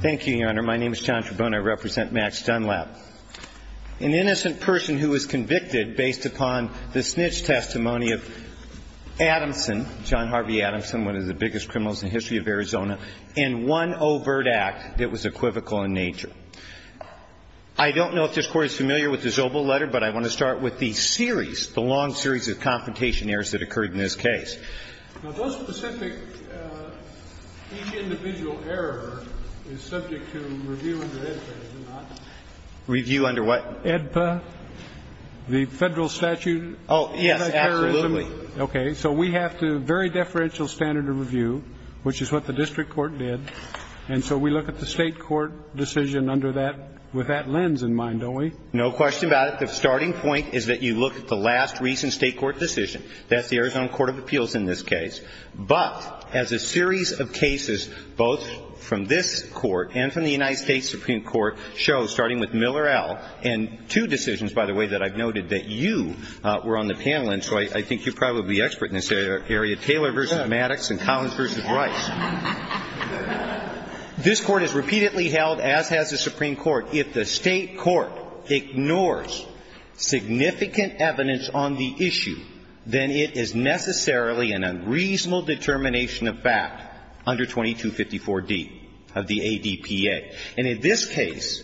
Thank you, Your Honor. My name is John Trabone. I represent Max Dunlap, an innocent person who was convicted based upon the snitch testimony of Adamson, John Harvey Adamson, one of the biggest criminals in the history of Arizona, in one overt act that was equivocal in nature. I don't know if this Court is familiar with the Zobel letter, but I want to start with the series, the long series of confrontation errors that occurred in this case. Now, those specific, each individual error is subject to review under AEDPA, is it not? Review under what? AEDPA, the Federal Statute of Interest. Oh, yes, absolutely. Okay. So we have to vary deferential standard of review, which is what the district court did. And so we look at the State court decision under that, with that lens in mind, don't we? No question about it. The starting point is that you look at the last recent State court decision. That's the Arizona Court of Appeals in this case. But as a series of cases, both from this Court and from the United States Supreme Court, show, starting with Miller L. And two decisions, by the way, that I've noted that you were on the panel in, so I think you're probably expert in this area, Taylor v. Maddox and Collins v. Rice. This Court has repeatedly held, as has the Supreme Court, if the State court ignores significant evidence on the issue, then it is necessarily an unreasonable determination of fact under 2254d of the ADPA. And in this case,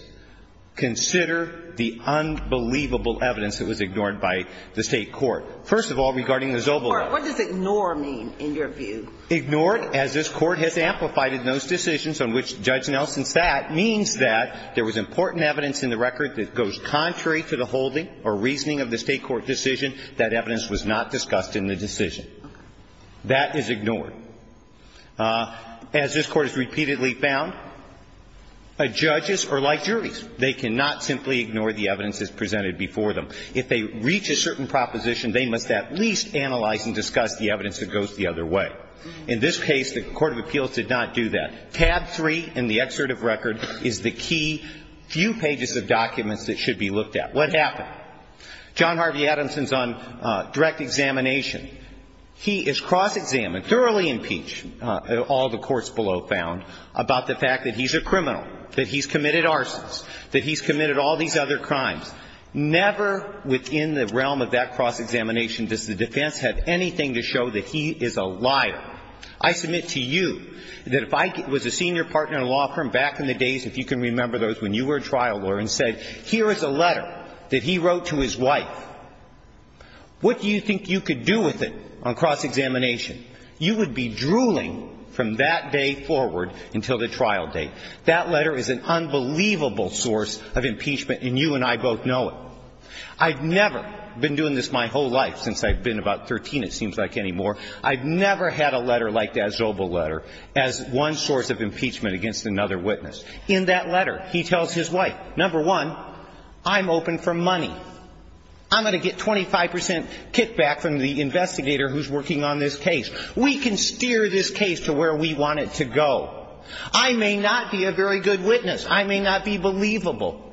consider the unbelievable evidence that was ignored by the State court. First of all, regarding the Zobel Act. Court, what does ignore mean in your view? Ignored, as this Court has amplified in those decisions on which Judge Nelson sat, means that there was important evidence in the record that goes contrary to the holding or reasoning of the State court decision. That evidence was not discussed in the decision. That is ignored. As this Court has repeatedly found, judges are like juries. They cannot simply ignore the evidence that's presented before them. If they reach a certain proposition, they must at least analyze and discuss the evidence that goes the other way. In this case, the Court of Appeals did not do that. Tab 3 in the excerpt of record is the key few pages of documents that should be looked at. What happened? John Harvey Adamson's on direct examination. He is cross-examined, thoroughly impeached, all the courts below found, about the fact that he's a criminal, that he's committed arsons, that he's committed all these other crimes. Never within the realm of that cross-examination does the defense have anything to show that he is a liar. I submit to you that if I was a senior partner in a law firm back in the days, if you can remember those, when you were a trial lawyer and said, here is a letter that he wrote to his wife, what do you think you could do with it on cross-examination? You would be drooling from that day forward until the trial date. That letter is an unbelievable source of impeachment, and you and I both know it. I've never been doing this my whole life since I've been about 13, it seems like, anymore. I've never had a letter like that Zobel letter as one source of impeachment against another witness. In that letter, he tells his wife, number one, I'm open for money. I'm going to get 25 percent kickback from the investigator who's working on this case. We can steer this case to where we want it to go. I may not be a very good witness. I may not be believable.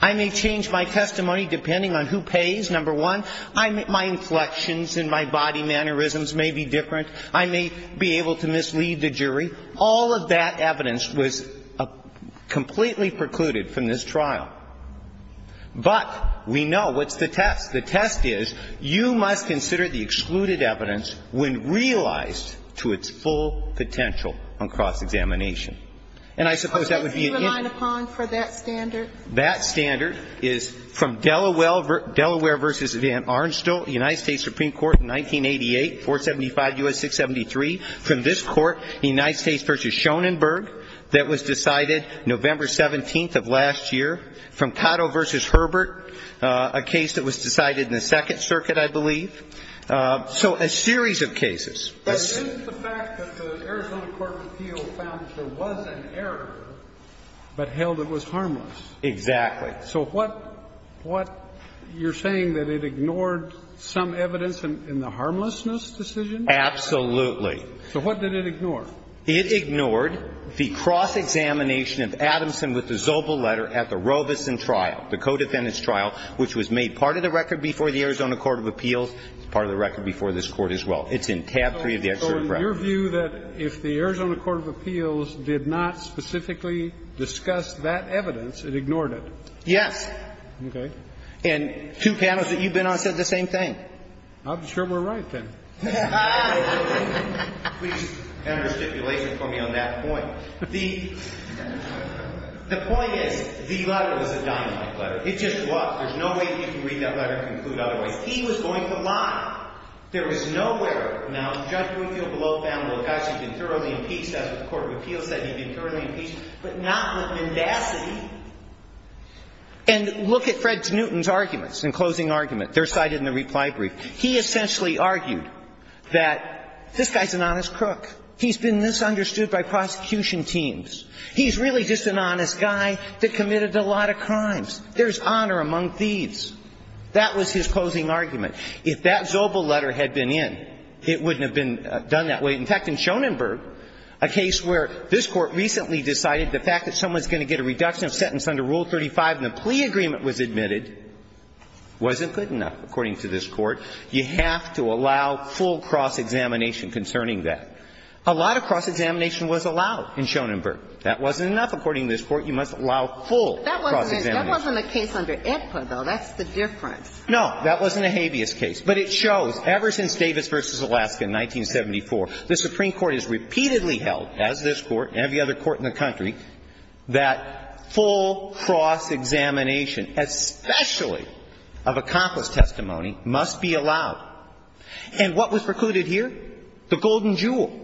I may change my testimony depending on who pays, number one. My inflections and my body mannerisms may be different. I may be able to mislead the jury. All of that evidence was completely precluded from this trial. But we know what's the test. The test is you must consider the excluded evidence when realized to its full potential on cross-examination. And I suppose that would be an in- What does he rely upon for that standard? That standard is from Delaware v. Van Arnstel, United States Supreme Court, 1988, 475 U.S. 673. From this Court, United States v. Schoenenberg, that was decided November 17th of last year. From Cato v. Herbert, a case that was decided in the Second Circuit, I believe. So a series of cases. But isn't the fact that the Arizona Court of Appeals found that there was an error, but held it was harmless? Exactly. So what you're saying, that it ignored some evidence in the harmlessness decision? Absolutely. So what did it ignore? It ignored the cross-examination of Adamson with the Zobel letter at the Robeson trial, the co-defendant's trial, which was made part of the record before the Arizona Court of Appeals, part of the record before this Court as well. It's in tab 3 of the executive record. So in your view, that if the Arizona Court of Appeals did not specifically discuss that evidence, it ignored it? Yes. Okay. And two panels that you've been on said the same thing. I'm sure we're right then. Please have a stipulation for me on that point. The point is, the letter was a dynamite letter. It just was. There's no way that you can read that letter and conclude otherwise. He was going to lie. There was nowhere. Now, Judge Winfield below found Locascio had been thoroughly impeached. That's what the Court of Appeals said. He'd been thoroughly impeached, but not with mendacity. And look at Fred Newton's arguments, in closing argument. They're cited in the reply brief. He essentially argued that this guy's an honest crook. He's been misunderstood by prosecution teams. He's really just an honest guy that committed a lot of crimes. There's honor among thieves. That was his closing argument. If that Zobel letter had been in, it wouldn't have been done that way. In fact, in Schoenenberg, a case where this Court recently decided the fact that someone's going to get a reduction of sentence under Rule 35 and a plea agreement was admitted wasn't good enough, according to this Court. You have to allow full cross-examination concerning that. A lot of cross-examination was allowed in Schoenenberg. That wasn't enough, according to this Court. You must allow full cross-examination. But that wasn't a case under ITPA, though. That's the difference. No. That wasn't a habeas case. But it shows, ever since Davis v. Alaska in 1974, the Supreme Court has repeatedly held, as this Court and every other court in the country, that full cross-examination, especially of accomplice testimony, must be allowed. And what was precluded here? The golden jewel.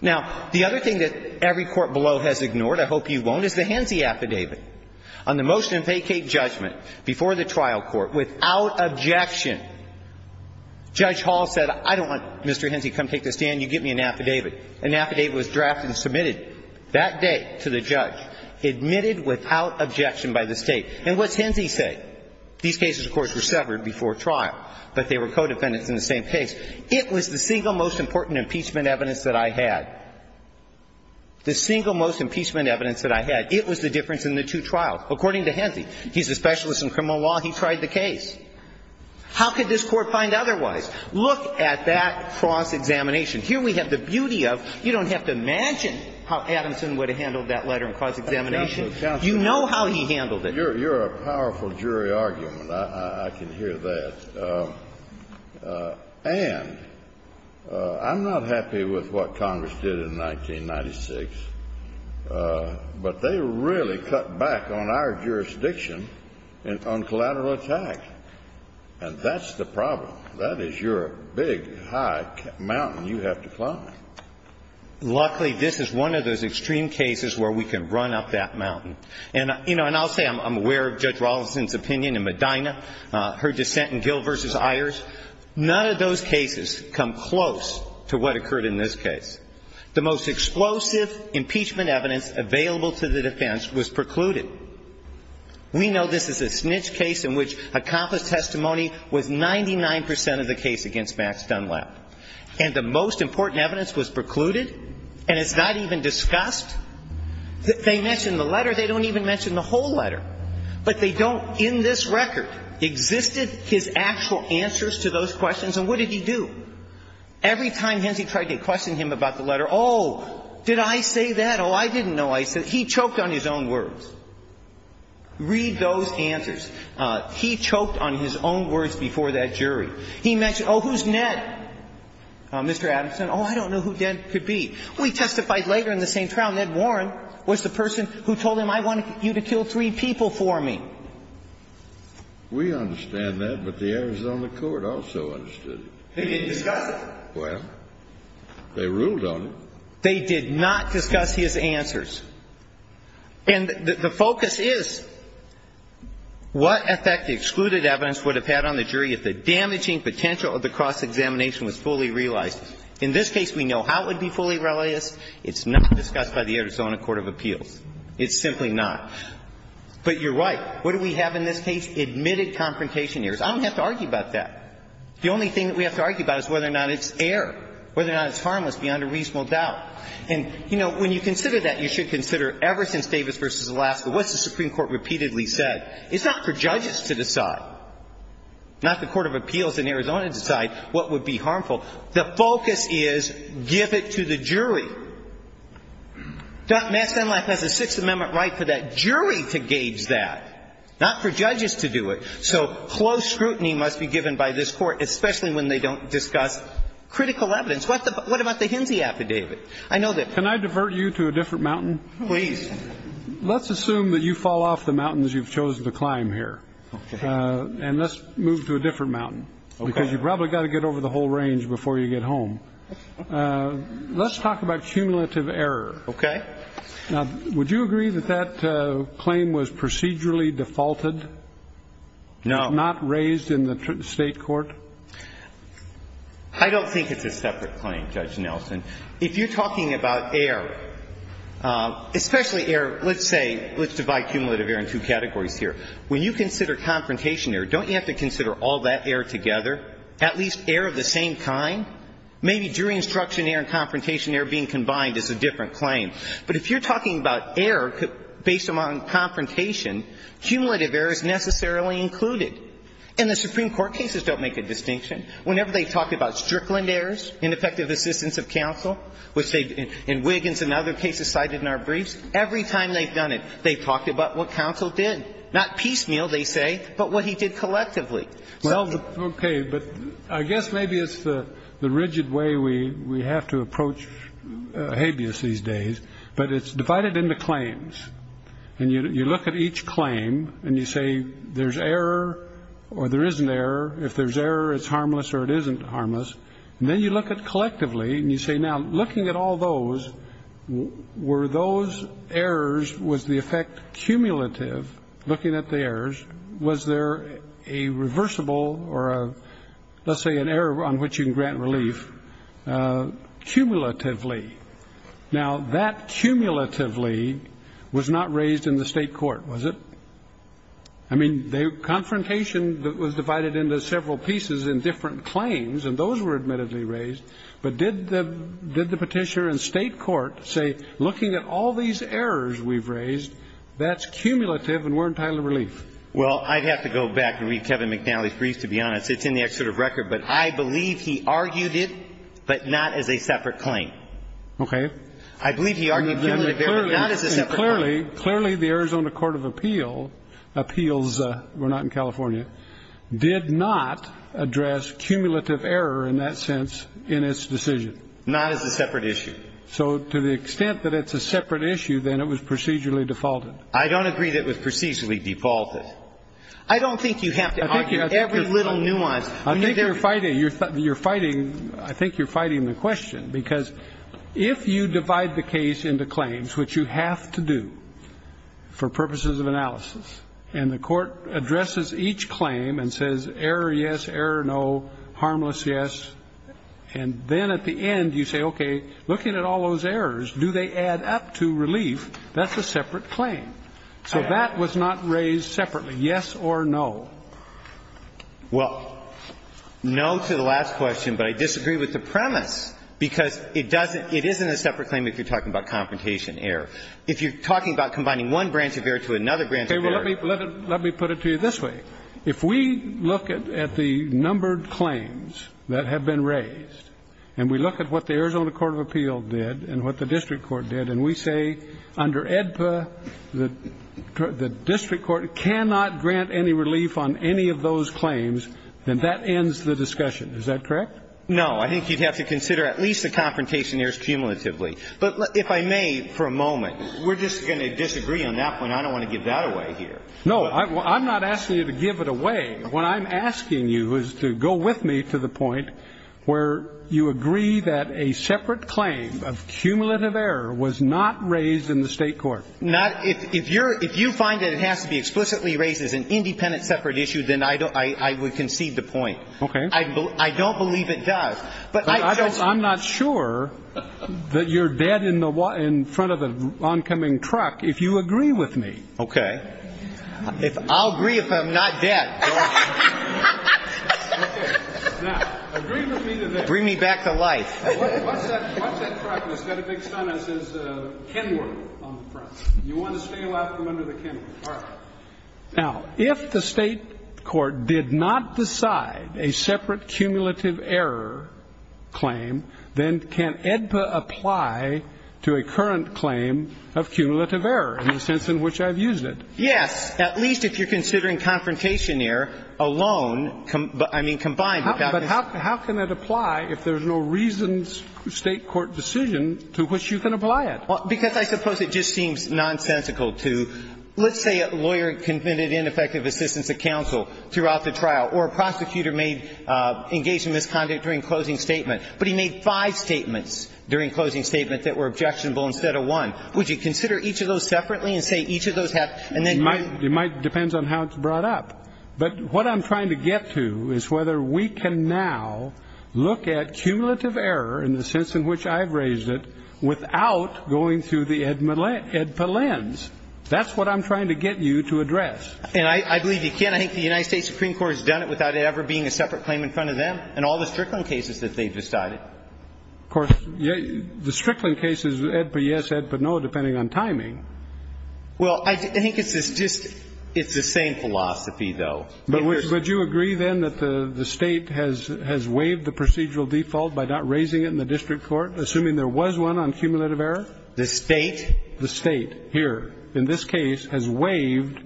Now, the other thing that every court below has ignored, I hope you won't, is the Henze affidavit. On the motion to vacate judgment before the trial court, without objection, Judge Hall said, I don't want Mr. Henze to come take the stand. You give me an affidavit. An affidavit was drafted and submitted that day to the judge, admitted without objection by the State. And what's Henze say? These cases, of course, were severed before trial, but they were co-defendants in the same case. It was the single most important impeachment evidence that I had. The single most impeachment evidence that I had. It was the difference in the two trials, according to Henze. He's a specialist in criminal law. He tried the case. How could this Court find otherwise? Look at that cross-examination. Here we have the beauty of, you don't have to imagine how Adamson would have handled that letter in cross-examination. You know how he handled it. You're a powerful jury argument. I can hear that. And I'm not happy with what Congress did in 1996. But they really cut back on our jurisdiction on collateral attack. And that's the problem. That is your big, high mountain you have to climb. Luckily, this is one of those extreme cases where we can run up that mountain. And I'll say I'm aware of Judge Rawlinson's opinion in Medina, her dissent in Gill v. Ayers. None of those cases come close to what occurred in this case. The most explosive impeachment evidence available to the defense was precluded. We know this is a snitch case in which accomplished testimony was 99 percent of the case against Max Dunlap. And the most important evidence was precluded? And it's not even discussed? They mention the letter. They don't even mention the whole letter. But they don't in this record. Existed his actual answers to those questions. And what did he do? Every time Hensley tried to question him about the letter, oh, did I say that? Oh, I didn't know I said that. He choked on his own words. Read those answers. He choked on his own words before that jury. He mentioned, oh, who's Ned, Mr. Adamson? Oh, I don't know who Ned could be. We testified later in the same trial. Ned Warren was the person who told him, I want you to kill three people for me. We understand that, but the Arizona court also understood it. They didn't discuss it. Well, they ruled on it. They did not discuss his answers. And the focus is what effect the excluded evidence would have had on the jury if the damaging potential of the cross-examination was fully realized. In this case, we know how it would be fully realized. It's not discussed by the Arizona court of appeals. It's simply not. But you're right. What do we have in this case? Admitted confrontation errors. I don't have to argue about that. The only thing that we have to argue about is whether or not it's error, whether or not it's harmless beyond a reasonable doubt. And, you know, when you consider that, you should consider ever since Davis v. Alaska, what's the Supreme Court repeatedly said? It's not for judges to decide, not the court of appeals in Arizona to decide what would be harmful. The focus is give it to the jury. Mass Denial Act has a Sixth Amendment right for that jury to gauge that, not for judges to do it. So close scrutiny must be given by this Court, especially when they don't discuss critical evidence. What about the Hinsey affidavit? I know that. Can I divert you to a different mountain? Please. Let's assume that you fall off the mountains you've chosen to climb here. Okay. And let's move to a different mountain. Okay. Because you probably got to get over the whole range before you get home. Let's talk about cumulative error. Okay. Now, would you agree that that claim was procedurally defaulted? No. Not raised in the State court? I don't think it's a separate claim, Judge Nelson. If you're talking about error, especially error, let's say, let's divide cumulative error in two categories here. When you consider confrontation error, don't you have to consider all that error together, at least error of the same kind? Maybe jury instruction error and confrontation error being combined is a different claim. But if you're talking about error based on confrontation, cumulative error is necessarily included. And the Supreme Court cases don't make a distinction. Whenever they talk about Strickland errors in effective assistance of counsel, which they, in Wiggins and other cases cited in our briefs, every time they've done it, they've talked about what counsel did. Not piecemeal, they say, but what he did collectively. Well, okay. But I guess maybe it's the rigid way we have to approach habeas these days. But it's divided into claims. And you look at each claim and you say there's error or there isn't error. If there's error, it's harmless or it isn't harmless. And then you look at collectively and you say, now, looking at all those, were those errors, was the effect cumulative looking at the errors? Was there a reversible or a, let's say, an error on which you can grant relief cumulatively? Now, that cumulatively was not raised in the state court, was it? I mean, the confrontation that was divided into several pieces in different claims, and those were admittedly raised. But did the Petitioner and state court say, looking at all these errors we've raised, that's cumulative and we're entitled to relief? Well, I'd have to go back and read Kevin McNally's brief, to be honest. It's in the excerpt of record. But I believe he argued it, but not as a separate claim. Okay. I believe he argued cumulative error, but not as a separate claim. Clearly, the Arizona Court of Appeals, we're not in California, did not address cumulative error in that sense in its decision. Not as a separate issue. So to the extent that it's a separate issue, then it was procedurally defaulted. I don't agree that it was procedurally defaulted. I don't think you have to argue every little nuance. I think you're fighting, I think you're fighting the question, because if you divide the case into claims, which you have to do for purposes of analysis, and the court says, okay, look at all those errors, do they add up to relief? That's a separate claim. So that was not raised separately, yes or no? Well, no to the last question, but I disagree with the premise, because it doesn't It isn't a separate claim if you're talking about confrontation error. If you're talking about combining one branch of error to another branch of error Okay. Well, let me put it to you this way. If we look at the numbered claims that have been raised, and we look at what the Arizona Court of Appeals did and what the district court did, and we say under AEDPA the district court cannot grant any relief on any of those claims, then that ends the discussion. Is that correct? No. I think you'd have to consider at least the confrontation errors cumulatively. But if I may, for a moment, we're just going to disagree on that point. I don't want to give that away here. No, I'm not asking you to give it away. What I'm asking you is to go with me to the point where you agree that a separate claim of cumulative error was not raised in the state court. If you find that it has to be explicitly raised as an independent separate issue, then I would concede the point. Okay. I don't believe it does. I'm not sure that you're dead in front of the oncoming truck if you agree with me. Okay. I'll agree if I'm not dead. Okay. Now, agree with me that they're dead. Bring me back to life. Watch that truck. It's got a big sign that says Kenworth on the front. You want to stay away from under the Kenworth. All right. Now, if the state court did not decide a separate cumulative error claim, then can AEDPA apply to a current claim of cumulative error in the sense in which I've mentioned it? Yes, at least if you're considering confrontation error alone. I mean, combined. But how can that apply if there's no reason, state court decision, to which you can apply it? Because I suppose it just seems nonsensical to, let's say a lawyer committed ineffective assistance at counsel throughout the trial, or a prosecutor may engage in misconduct during closing statement, but he made five statements during closing statement that were objectionable instead of one. Would you consider each of those separately and say each of those have and then you might It might depends on how it's brought up. But what I'm trying to get to is whether we can now look at cumulative error in the sense in which I've raised it without going through the AEDPA lens. That's what I'm trying to get you to address. And I believe you can. I think the United States Supreme Court has done it without it ever being a separate claim in front of them and all the Strickland cases that they've decided. Of course, the Strickland cases, AEDPA, yes, AEDPA, no, depending on timing. Well, I think it's just the same philosophy, though. But would you agree then that the State has waived the procedural default by not raising it in the district court, assuming there was one on cumulative error? The State. The State, here, in this case, has waived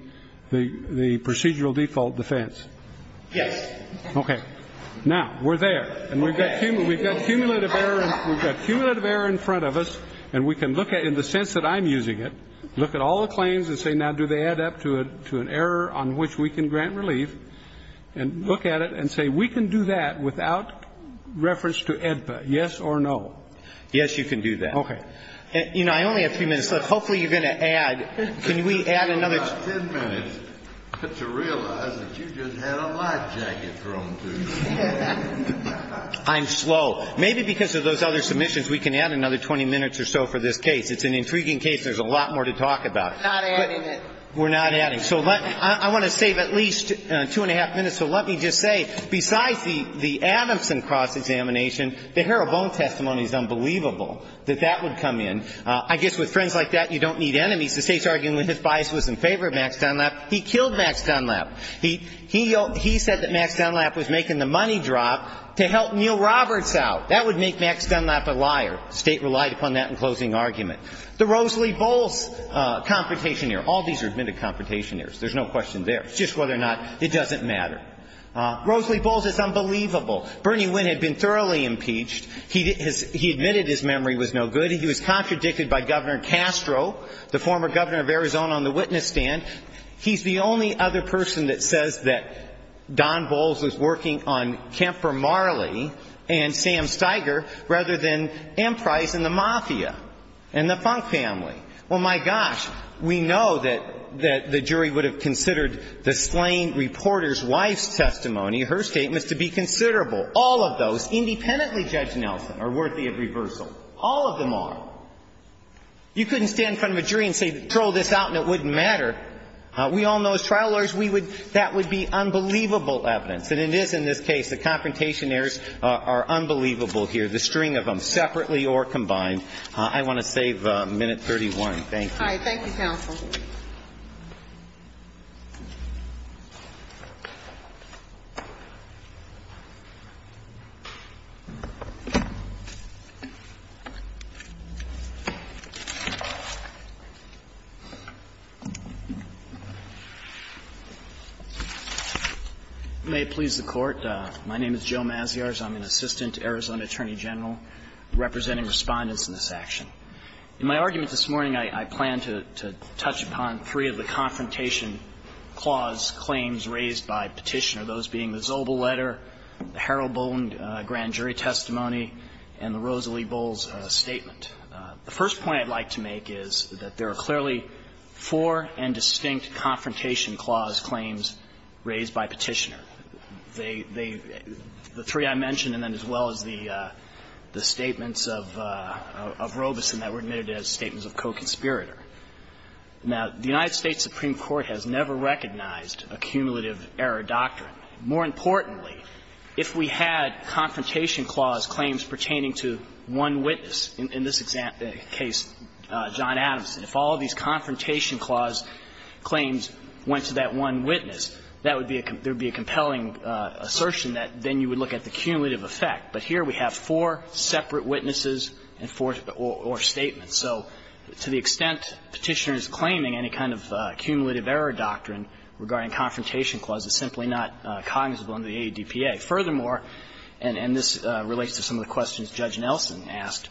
the procedural default defense. Yes. Okay. Now, we're there. And we've got cumulative error in front of us. And we can look at it in the sense that I'm using it, look at all the claims and say, now, do they add up to an error on which we can grant relief, and look at it and say, we can do that without reference to AEDPA, yes or no. Yes, you can do that. Okay. You know, I only have a few minutes left. Hopefully you're going to add. Can we add another ten minutes? I'm slow. Maybe because of those other submissions, we can add another 20 minutes or so for this case. It's an intriguing case. There's a lot more to talk about. We're not adding it. We're not adding. So I want to save at least two and a half minutes. So let me just say, besides the Adamson cross-examination, the Harrell-Bone testimony is unbelievable that that would come in. I guess with friends like that, you don't need enemies. The State's argument with his bias was in favor of Max Dunlap. He killed Max Dunlap. He said that Max Dunlap was making the money drop to help Neal Roberts out. That would make Max Dunlap a liar. The State relied upon that in closing argument. The Rosalie Bowles confrontation here. All these are admitted confrontation errors. There's no question there. It's just whether or not it doesn't matter. Rosalie Bowles is unbelievable. Bernie Wynne had been thoroughly impeached. He admitted his memory was no good. He admitted he was contradicted by Governor Castro, the former governor of Arizona, on the witness stand. He's the only other person that says that Don Bowles was working on Kemper Marley and Sam Steiger rather than M. Price and the Mafia and the Funk family. Well, my gosh, we know that the jury would have considered the slain reporter's wife's testimony, her statement, to be considerable. All of those, independently Judge Nelson, are worthy of reversal. All of them are. You couldn't stand in front of a jury and say, throw this out and it wouldn't matter. We all know as trial lawyers we would that would be unbelievable evidence. And it is in this case. The confrontation errors are unbelievable here, the string of them, separately or combined. I want to save minute 31. Thank you. GOTTLIEB All right. Thank you, counsel. MS. MAZZIARS May it please the Court, my name is Joe Mazziars. I'm an assistant Arizona attorney general representing respondents in this action. In my argument this morning, I plan to touch upon three of the confrontation clause claims raised by Petitioner, those being the Zobel letter, the Harold Boland grand jury testimony, and the Rosalie Bowles statement. The first point I'd like to make is that there are clearly four and distinct confrontation clause claims raised by Petitioner. They the three I mentioned and then as well as the statements of Robeson that were admitted as statements of co-conspirator. Now, the United States Supreme Court has never recognized a cumulative error doctrine. More importantly, if we had confrontation clause claims pertaining to one witness in this case, John Adamson, if all these confrontation clause claims went to that one witness, that would be a compelling assertion that then you would look at the cumulative effect. But here we have four separate witnesses or statements. So to the extent Petitioner is claiming any kind of cumulative error doctrine regarding confrontation clause, it's simply not cognizable under the ADPA. Furthermore, and this relates to some of the questions Judge Nelson asked,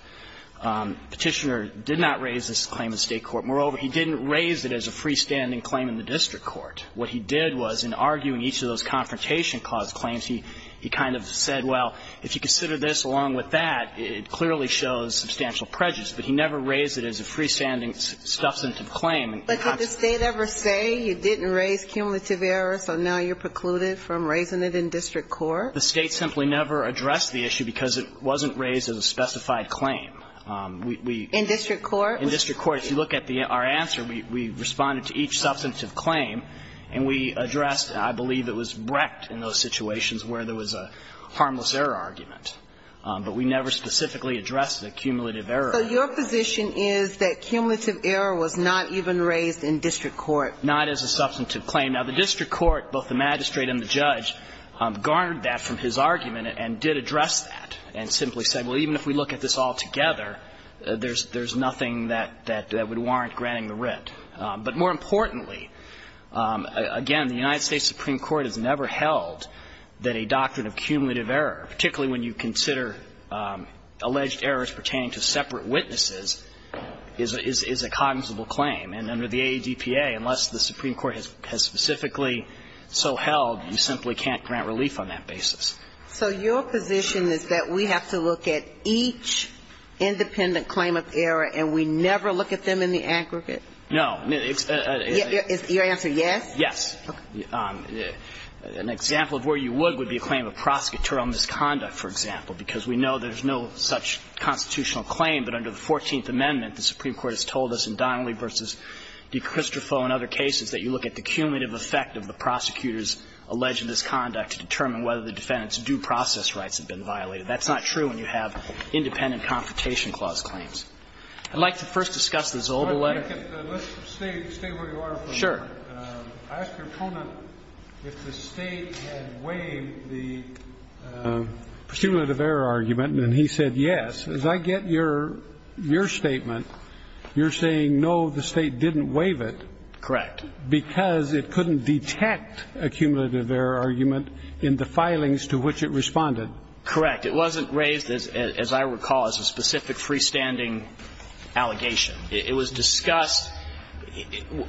Petitioner did not raise this claim in the State court. Moreover, he didn't raise it as a freestanding claim in the district court. What he did was in arguing each of those confrontation clause claims, he kind of said, well, if you consider this along with that, it clearly shows substantial prejudice. But he never raised it as a freestanding substantive claim. Ginsburg. But did the State ever say you didn't raise cumulative error, so now you're precluded from raising it in district court? The State simply never addressed the issue because it wasn't raised as a specified claim. In district court? In district court. If you look at our answer, we responded to each substantive claim. And we addressed, I believe it was Brecht in those situations where there was a harmless error argument. But we never specifically addressed the cumulative error. So your position is that cumulative error was not even raised in district court? Not as a substantive claim. Now, the district court, both the magistrate and the judge, garnered that from his argument and did address that and simply said, well, even if we look at this altogether, there's nothing that would warrant granting the writ. But more importantly, again, the United States Supreme Court has never held that a doctrine of cumulative error, particularly when you consider alleged errors pertaining to separate witnesses, is a cognizable claim. And under the AEDPA, unless the Supreme Court has specifically so held, you simply can't grant relief on that basis. So your position is that we have to look at each independent claim of error and we never look at them in the aggregate? No. Is your answer yes? Yes. An example of where you would would be a claim of prosecutorial misconduct, for example, because we know there's no such constitutional claim. But under the Fourteenth Amendment, the Supreme Court has told us in Donnelly v. DeCristofo and other cases that you look at the cumulative effect of the prosecutor's alleged misconduct to determine whether the defendant's due process rights have been violated. That's not true when you have independent confrontation clause claims. I'd like to first discuss the Zolder letter. Let's stay where you are for a moment. Sure. I asked your opponent if the State had waived the cumulative error argument, and he said yes. As I get your statement, you're saying, no, the State didn't waive it. Correct. Because it couldn't detect a cumulative error argument in the filings to which it responded. Correct. It wasn't raised, as I recall, as a specific freestanding allegation. It was discussed –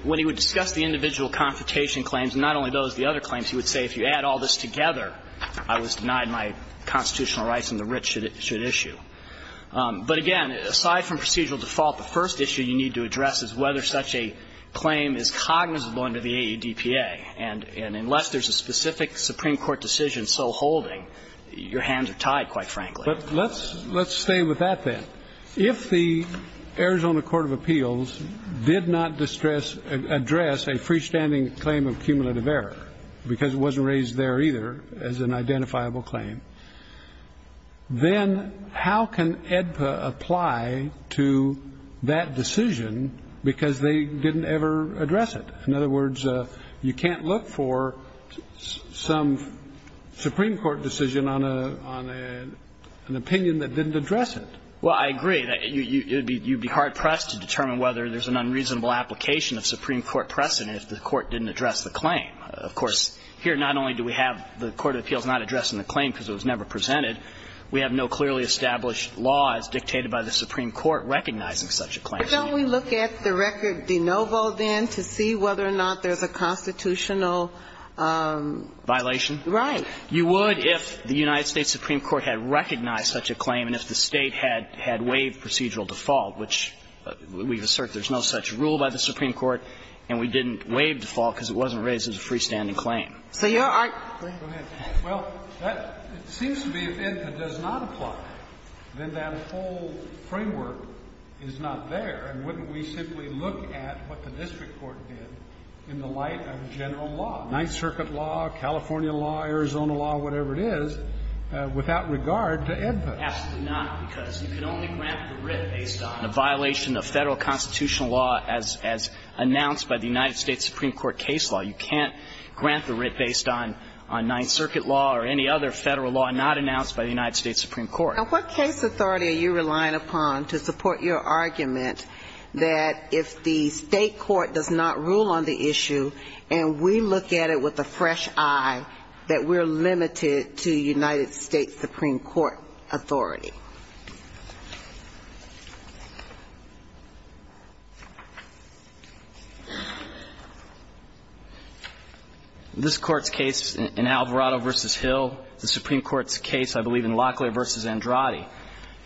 when he would discuss the individual confrontation claims, not only those, the other claims, he would say if you add all this together, I was denied my constitutional rights and the writ should issue. But, again, aside from procedural default, the first issue you need to address is whether such a claim is cognizable under the AEDPA. And unless there's a specific Supreme Court decision so holding, your hands are tied, quite frankly. But let's stay with that, then. If the Arizona Court of Appeals did not address a freestanding claim of cumulative error, because it wasn't raised there either as an identifiable claim, then how can you look for some Supreme Court decision on an opinion that didn't address it? Because they didn't ever address it. In other words, you can't look for some Supreme Court decision on an opinion that didn't address it. Well, I agree. You'd be hard-pressed to determine whether there's an unreasonable application of Supreme Court precedent if the Court didn't address the claim. Of course, here not only do we have the court of appeals not addressing the claim because it was never presented, we have no clearly established law as dictated by the Supreme Court recognizing such a claim. But don't we look at the record de novo, then, to see whether or not there's a constitutional Right. You would if the United States Supreme Court had recognized such a claim and if the State had waived procedural default, which we've asserted there's no such rule by the Supreme Court, and we didn't waive default because it wasn't raised as a freestanding claim. So your argument go ahead. Well, it seems to me if AEDPA does not apply, then that whole framework is not there. And wouldn't we simply look at what the district court did in the light of general law, Ninth Circuit law, California law, Arizona law, whatever it is, without regard to AEDPA? Absolutely not, because you can only grant the writ based on a violation of Federal constitutional law as announced by the United States Supreme Court case law. You can't grant the writ based on Ninth Circuit law or any other Federal law not announced by the United States Supreme Court. Now, what case authority are you relying upon to support your argument that if the State court does not rule on the issue and we look at it with a fresh eye, that we're limited to United States Supreme Court authority? This Court's case in Alvarado v. Hill, the Supreme Court's case, I believe, in Locklear v. Andrade.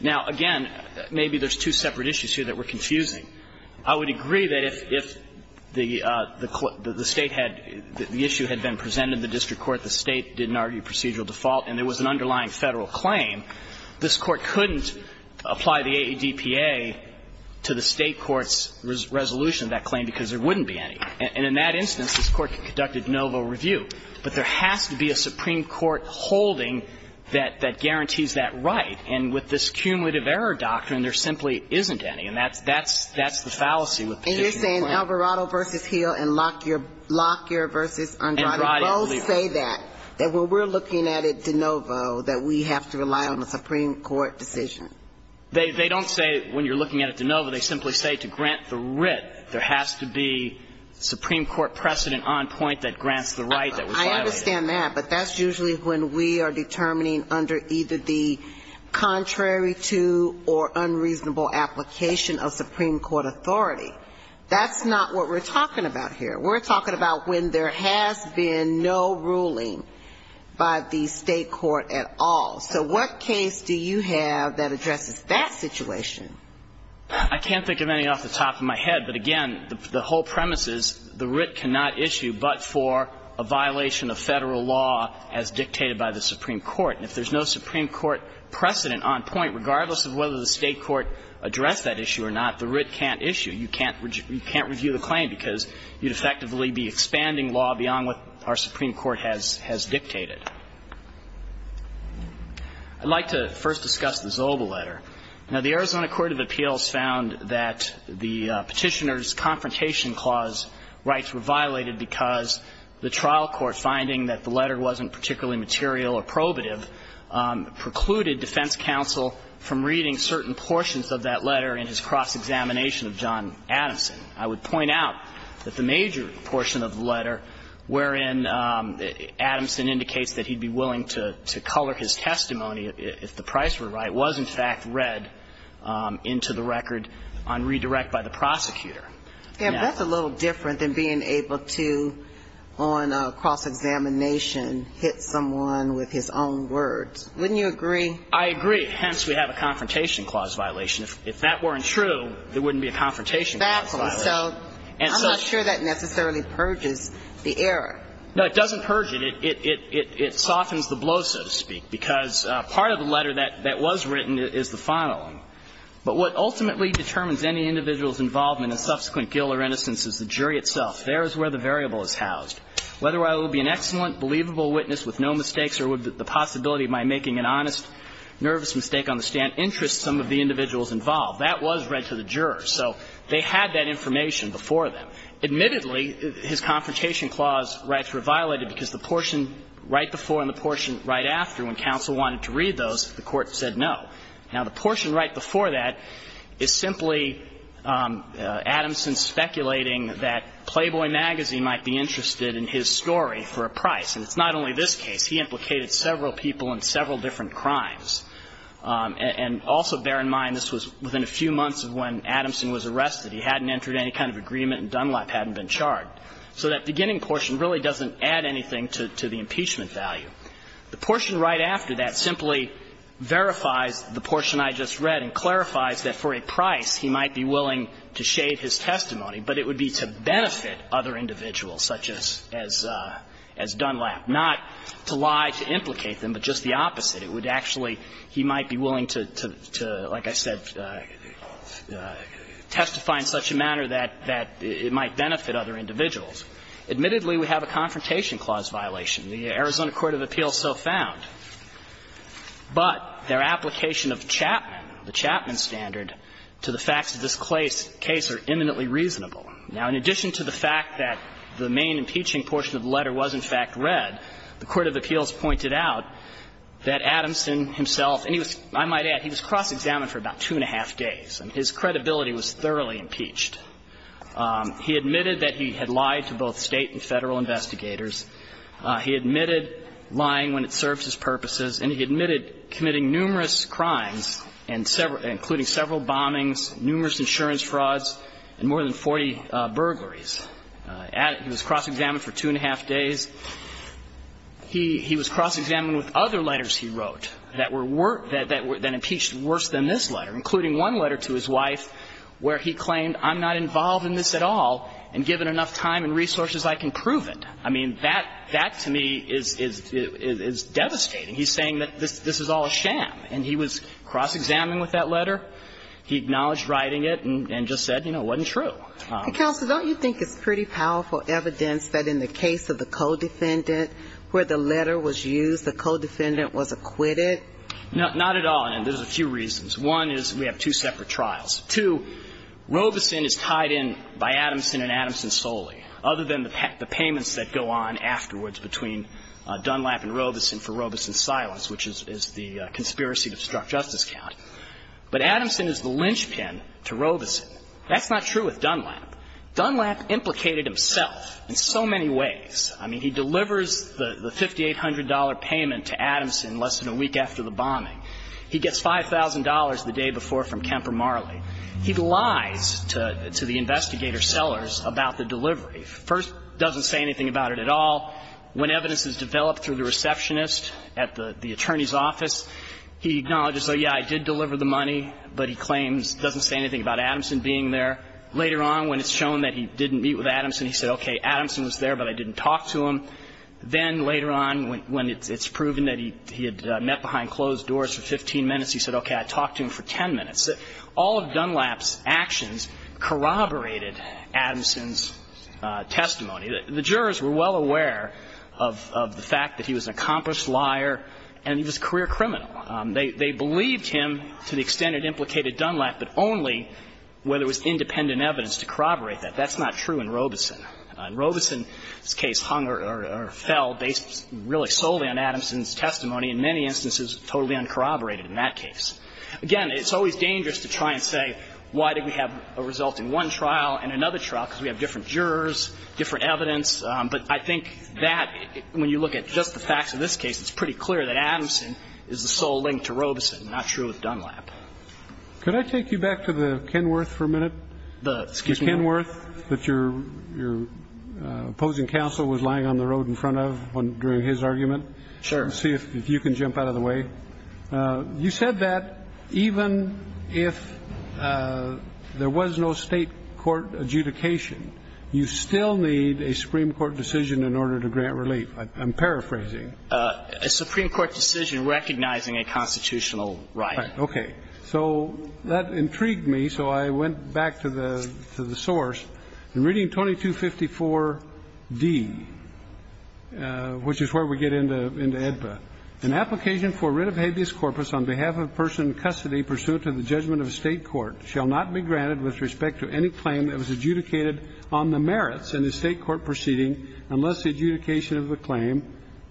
Now, again, maybe there's two separate issues here that we're confusing. I would agree that if the State had the issue had been presented in the district court, the State didn't argue procedural default, and there was an underlying Federal claim, this Court couldn't apply the AEDPA to the State court's resolution of that claim, because there wouldn't be any. And in that instance, this Court can conduct a de novo review. But there has to be a Supreme Court holding that guarantees that right. And with this cumulative error doctrine, there simply isn't any. And that's the fallacy with the case in Alvarado. And you're saying Alvarado v. Hill and Locklear v. Andrade both say that, that when we're looking at it de novo, that we have to rely on a Supreme Court decision? They don't say when you're looking at it de novo. They simply say to grant the writ. There has to be Supreme Court precedent on point that grants the right that was violated. I understand that. But that's usually when we are determining under either the contrary to or unreasonable application of Supreme Court authority. That's not what we're talking about here. We're talking about when there has been no ruling by the State court at all. So what case do you have that addresses that situation? I can't think of any off the top of my head. But again, the whole premise is the writ cannot issue but for a violation of Federal law as dictated by the Supreme Court. And if there's no Supreme Court precedent on point, regardless of whether the State court addressed that issue or not, the writ can't issue. You can't review the claim because you'd effectively be expanding law beyond what our Supreme Court has dictated. I'd like to first discuss the Zobel letter. Now, the Arizona Court of Appeals found that the Petitioner's Confrontation Clause rights were violated because the trial court, finding that the letter wasn't particularly material or probative, precluded defense counsel from reading certain cross-examination of John Adamson. I would point out that the major portion of the letter, wherein Adamson indicates that he'd be willing to color his testimony if the price were right, was in fact read into the record on redirect by the prosecutor. And that's a little different than being able to, on cross-examination, hit someone with his own words. Wouldn't you agree? I agree. Hence, we have a Confrontation Clause violation. If that weren't true, there wouldn't be a Confrontation Clause violation. Exactly. So I'm not sure that necessarily purges the error. No, it doesn't purge it. It softens the blow, so to speak, because part of the letter that was written is the final one. But what ultimately determines any individual's involvement in subsequent guilt or innocence is the jury itself. There is where the variable is housed. Whether I will be an excellent, believable witness with no mistakes or would the possibility of my making an honest, nervous mistake on the stand interest some of the individuals involved, that was read to the jurors. So they had that information before them. Admittedly, his Confrontation Clause rights were violated because the portion right before and the portion right after, when counsel wanted to read those, the Court said no. Now, the portion right before that is simply Adamson speculating that Playboy magazine might be interested in his story for a price. And it's not only this case. He implicated several people in several different crimes. And also bear in mind this was within a few months of when Adamson was arrested. He hadn't entered any kind of agreement and Dunlap hadn't been charged. So that beginning portion really doesn't add anything to the impeachment value. The portion right after that simply verifies the portion I just read and clarifies that for a price he might be willing to shade his testimony, but it would be to benefit other individuals, such as Dunlap. Not to lie to implicate them, but just the opposite. It would actually he might be willing to, like I said, testify in such a manner that it might benefit other individuals. Admittedly, we have a Confrontation Clause violation. The Arizona court of appeals so found. But their application of Chapman, the Chapman standard, to the facts of this case are eminently reasonable. Now, in addition to the fact that the main impeaching portion of the letter was, in fact, read, the court of appeals pointed out that Adamson himself, and he was, I might add, he was cross-examined for about two and a half days. And his credibility was thoroughly impeached. He admitted that he had lied to both State and Federal investigators. He admitted lying when it served his purposes. And he admitted committing numerous crimes, including several bombings, numerous insurance frauds, and more than 40 burglaries. He was cross-examined for two and a half days. He was cross-examined with other letters he wrote that were worse, that were then impeached worse than this letter, including one letter to his wife where he claimed I'm not involved in this at all, and given enough time and resources, I can prove it. I mean, that to me is devastating. He's saying that this is all a sham. And he was cross-examined with that letter. He acknowledged writing it and just said, you know, it wasn't true. And, Counsel, don't you think it's pretty powerful evidence that in the case of the co-defendant where the letter was used, the co-defendant was acquitted? No, not at all. And there's a few reasons. One is we have two separate trials. Two, Robeson is tied in by Adamson and Adamson solely, other than the payments that go on afterwards between Dunlap and Robeson for Robeson's silence, which is the conspiracy to obstruct justice count. But Adamson is the linchpin to Robeson. That's not true with Dunlap. Dunlap implicated himself in so many ways. I mean, he delivers the $5,800 payment to Adamson less than a week after the bombing. He gets $5,000 the day before from Kemper Marley. He lies to the investigator sellers about the delivery. First, doesn't say anything about it at all. When evidence is developed through the receptionist at the attorney's office, he acknowledges, oh, yeah, I did deliver the money, but he claims, doesn't say anything about Adamson being there. Later on, when it's shown that he didn't meet with Adamson, he said, okay, Adamson was there, but I didn't talk to him. Then later on, when it's proven that he had met behind closed doors for 15 minutes, he said, okay, I talked to him for 10 minutes. All of Dunlap's actions corroborated Adamson's testimony. The jurors were well aware of the fact that he was an accomplished liar and he was a career criminal. They believed him to the extent it implicated Dunlap, but only where there was independent evidence to corroborate that. That's not true in Robeson. In Robeson's case, hung or fell based really solely on Adamson's testimony, in many instances totally uncorroborated in that case. Again, it's always dangerous to try and say why did we have a result in one trial and another trial, because we have different jurors, different evidence. But I think that, when you look at just the facts of this case, it's pretty clear that Adamson is the sole link to Robeson, not true with Dunlap. Could I take you back to the Kenworth for a minute? The excuse me? The Kenworth that your opposing counsel was lying on the road in front of during his argument? Sure. Let's see if you can jump out of the way. You said that even if there was no State court adjudication, you still need a Supreme Court decision in order to grant relief. I'm paraphrasing. A Supreme Court decision recognizing a constitutional right. Right. Okay. So that intrigued me, so I went back to the source. In Reading 2254d, which is where we get into AEDPA, An application for writ of habeas corpus on behalf of a person in custody pursuant to the judgment of a State court shall not be granted with respect to any claim that was adjudicated on the merits in the State court proceeding unless the adjudication of the claim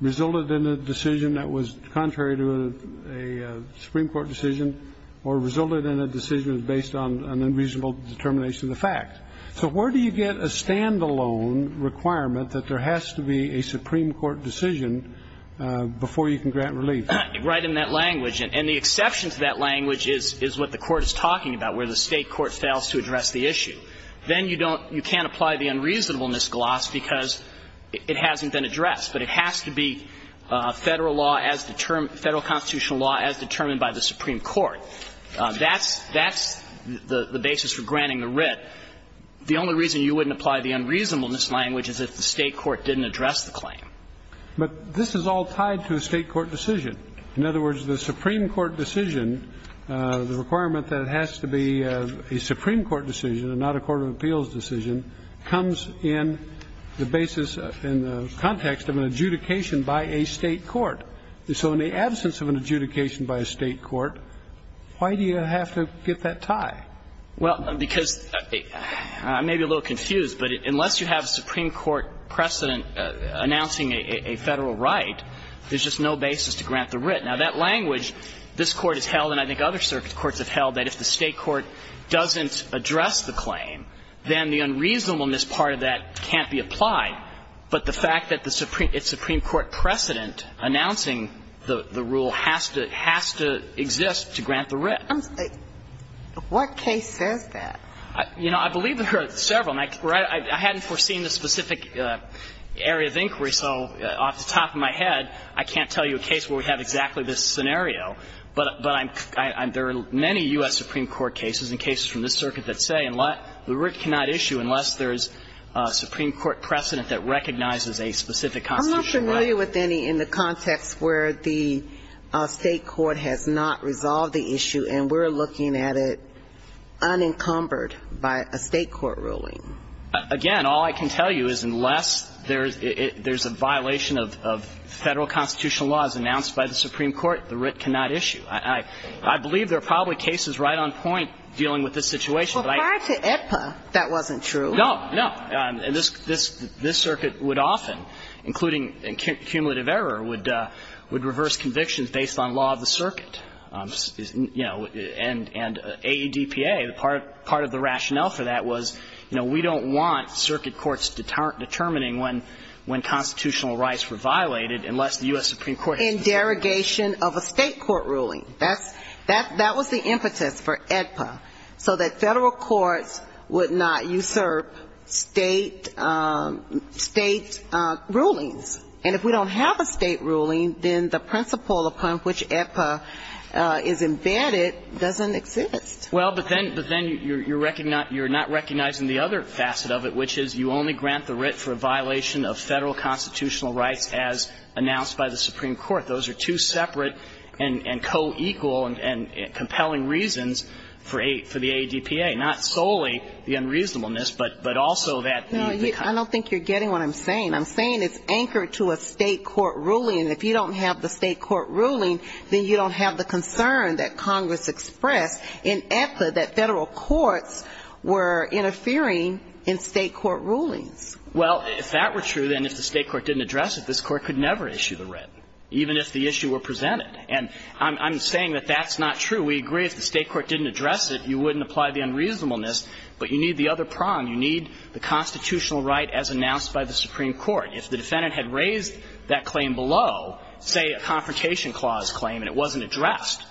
resulted in a decision that was contrary to a Supreme Court decision or resulted in a decision based on an unreasonable determination of the fact. So where do you get a stand-alone requirement that there has to be a Supreme Court decision before you can grant relief? Right in that language. And the exception to that language is what the Court is talking about, where the State court fails to address the issue. Then you don't you can't apply the unreasonableness gloss because it hasn't been addressed, but it has to be Federal law as determined Federal constitutional law as determined by the Supreme Court. That's that's the basis for granting the writ. The only reason you wouldn't apply the unreasonableness language is if the State court didn't address the claim. But this is all tied to a State court decision. In other words, the Supreme Court decision, the requirement that it has to be a Supreme Court decision and not a court of appeals decision comes in the basis, in the context of an adjudication by a State court. So in the absence of an adjudication by a State court, why do you have to get that tie? Well, because I may be a little confused, but unless you have a Supreme Court precedent announcing a Federal right, there's just no basis to grant the writ. Now, that language, this Court has held and I think other circuit courts have held that if the State court doesn't address the claim, then the unreasonableness part of that can't be applied. But the fact that the Supreme Court precedent announcing the rule has to exist to grant the writ. What case says that? You know, I believe there are several. I hadn't foreseen the specific area of inquiry, so off the top of my head, I can't tell you a case where we have exactly this scenario. But there are many U.S. Supreme Court cases and cases from this circuit that say the writ cannot issue unless there's a Supreme Court precedent that recognizes a specific constitutional right. I'm not familiar with any in the context where the State court has not resolved the issue and we're looking at it unencumbered by a State court ruling. Again, all I can tell you is unless there's a violation of Federal constitutional laws announced by the Supreme Court, the writ cannot issue. I believe there are probably cases right on point dealing with this situation, but I don't know. But prior to AEDPA, that wasn't true. No, no. And this circuit would often, including cumulative error, would reverse convictions based on law of the circuit. You know, and AEDPA, part of the rationale for that was, you know, we don't want a State court ruling. That was the impetus for AEDPA, so that Federal courts would not usurp State rulings. And if we don't have a State ruling, then the principle upon which AEDPA is embedded doesn't exist. Well, but then you're not recognizing the other facet of it, which is you only grant the writ for a violation of Federal constitutional rights as announced by the Supreme Court. Those are two separate and co-equal and compelling reasons for the AEDPA, not solely the unreasonableness, but also that the kind of ---- No, I don't think you're getting what I'm saying. I'm saying it's anchored to a State court ruling. If you don't have the State court ruling, then you don't have the concern that Well, if that were true, then if the State court didn't address it, this Court could never issue the writ, even if the issue were presented. And I'm saying that that's not true. We agree if the State court didn't address it, you wouldn't apply the unreasonableness, but you need the other prong. You need the constitutional right as announced by the Supreme Court. If the defendant had raised that claim below, say, a Confrontation Clause claim, and it wasn't addressed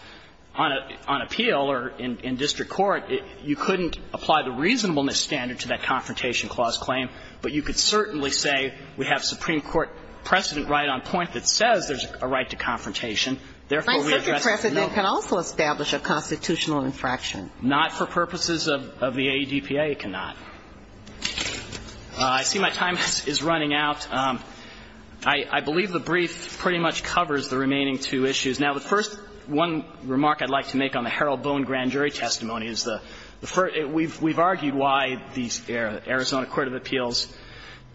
on appeal or in district court, you couldn't apply the reasonableness standard to that Confrontation Clause claim, but you could certainly say we have Supreme Court precedent right on point that says there's a right to confrontation, therefore, we address it. No. My second precedent can also establish a constitutional infraction. Not for purposes of the AEDPA, it cannot. I see my time is running out. I believe the brief pretty much covers the remaining two issues. Now, the first one remark I'd like to make on the Harold Boone grand jury testimony is the first we've argued why the Arizona Court of Appeals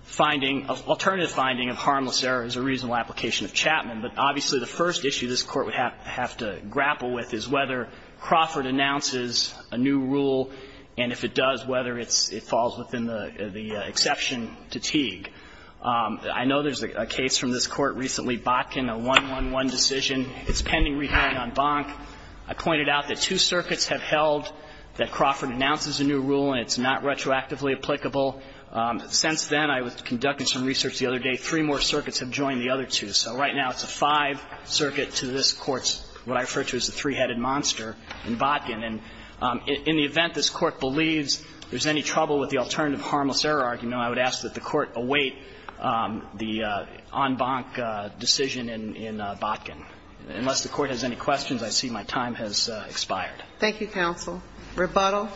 finding, alternative finding of harmless error is a reasonable application of Chapman. But obviously, the first issue this Court would have to grapple with is whether Crawford announces a new rule, and if it does, whether it falls within the exception to Teague. I know there's a case from this Court recently, Botkin, a 1-1-1 decision. It's pending rehearing on Bonk. I pointed out that two circuits have held that Crawford announces a new rule and it's not retroactively applicable. Since then, I was conducting some research the other day, three more circuits have joined the other two. So right now, it's a five circuit to this Court's, what I refer to as the three-headed monster in Botkin. And in the event this Court believes there's any trouble with the alternative harmless error argument, I would ask that the Court await the on Bonk decision in Botkin. Unless the Court has any questions, I see my time has expired. Thank you, counsel. Rebuttal.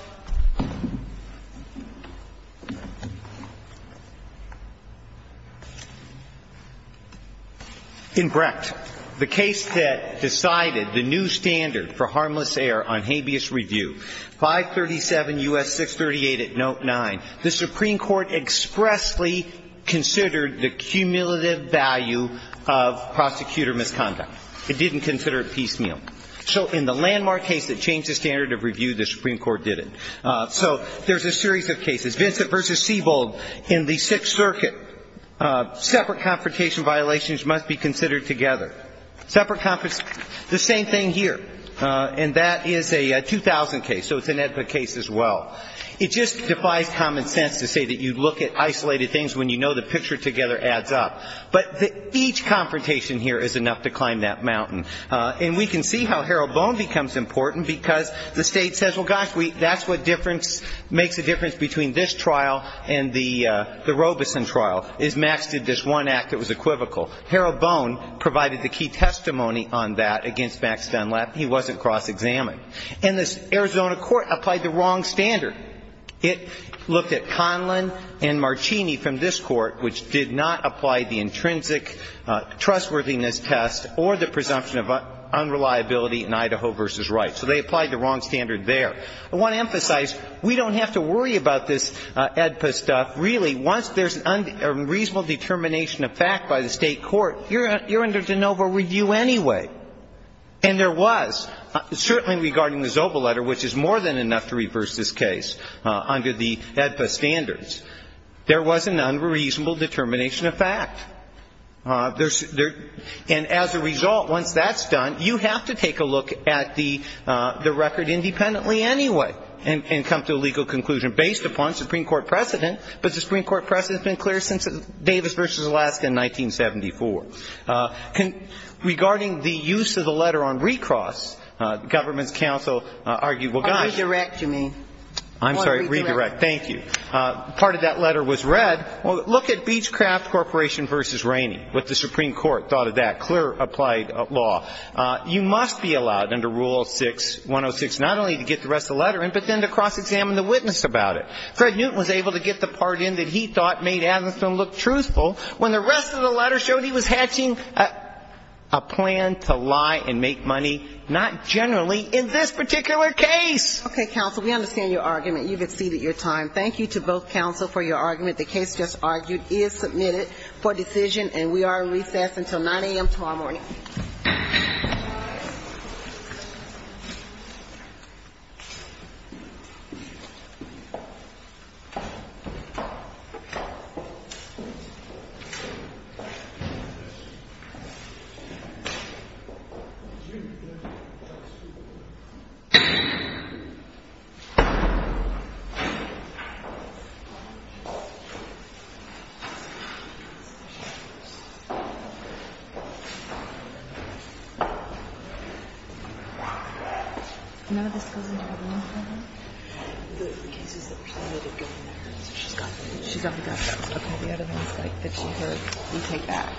In Brecht, the case that decided the new standard for harmless error on habeas review, 537 U.S. 638 at note 9, the Supreme Court expressly considered the cumulative value of prosecutor misconduct. It didn't consider it piecemeal. So in the landmark case that changed the standard of review, the Supreme Court did it. So there's a series of cases. Vincent v. Seibold in the Sixth Circuit. Separate confrontation violations must be considered together. Separate confrontation. The same thing here. And that is a 2000 case. So it's an EDPA case as well. It just defies common sense to say that you look at isolated things when you know the picture together adds up. But each confrontation here is enough to climb that mountain. And we can see how Harold Bone becomes important because the State says, well, gosh, that's what makes a difference between this trial and the Robeson trial, is Max did this one act that was equivocal. Harold Bone provided the key testimony on that against Max Dunlap. He wasn't cross-examined. And the Arizona court applied the wrong standard. It looked at Conlin and Marcini from this court, which did not apply the intrinsic trustworthiness test or the presumption of unreliability in Idaho v. Wright. So they applied the wrong standard there. I want to emphasize, we don't have to worry about this EDPA stuff. Really, once there's a reasonable determination of fact by the State court, you're under de novo review anyway. And there was, certainly regarding the Zobel letter, which is more than enough to reverse this case under the EDPA standards. There was an unreasonable determination of fact. And as a result, once that's done, you have to take a look at the record independently anyway and come to a legal conclusion based upon Supreme Court precedent. But the Supreme Court precedent has been clear since Davis v. Alaska in 1974. Regarding the use of the letter on recross, the government's counsel argued, well, gosh. Redirect to me. I'm sorry. Redirect. Thank you. Part of that letter was read. Well, look at Beechcraft Corporation v. Rainey, what the Supreme Court thought of that. Clear applied law. You must be allowed under Rule 6106 not only to get the rest of the letter in, but then to cross-examine the witness about it. Fred Newton was able to get the part in that he thought made Adamson look truthful when the rest of the letter showed he was hatching a plan to lie and make money not generally in this particular case. Okay, counsel. We understand your argument. You've exceeded your time. Thank you to both counsel for your argument. The case just argued is submitted for decision, and we are recessed until 9 a.m. tomorrow morning. Thank you. Thank you. Thank you. None of these goes into the wounds, do they? The cases that were submitted... Go in there. She's got the meds. Okay, we have the meds. Okay, the other ones that she heard. We take that.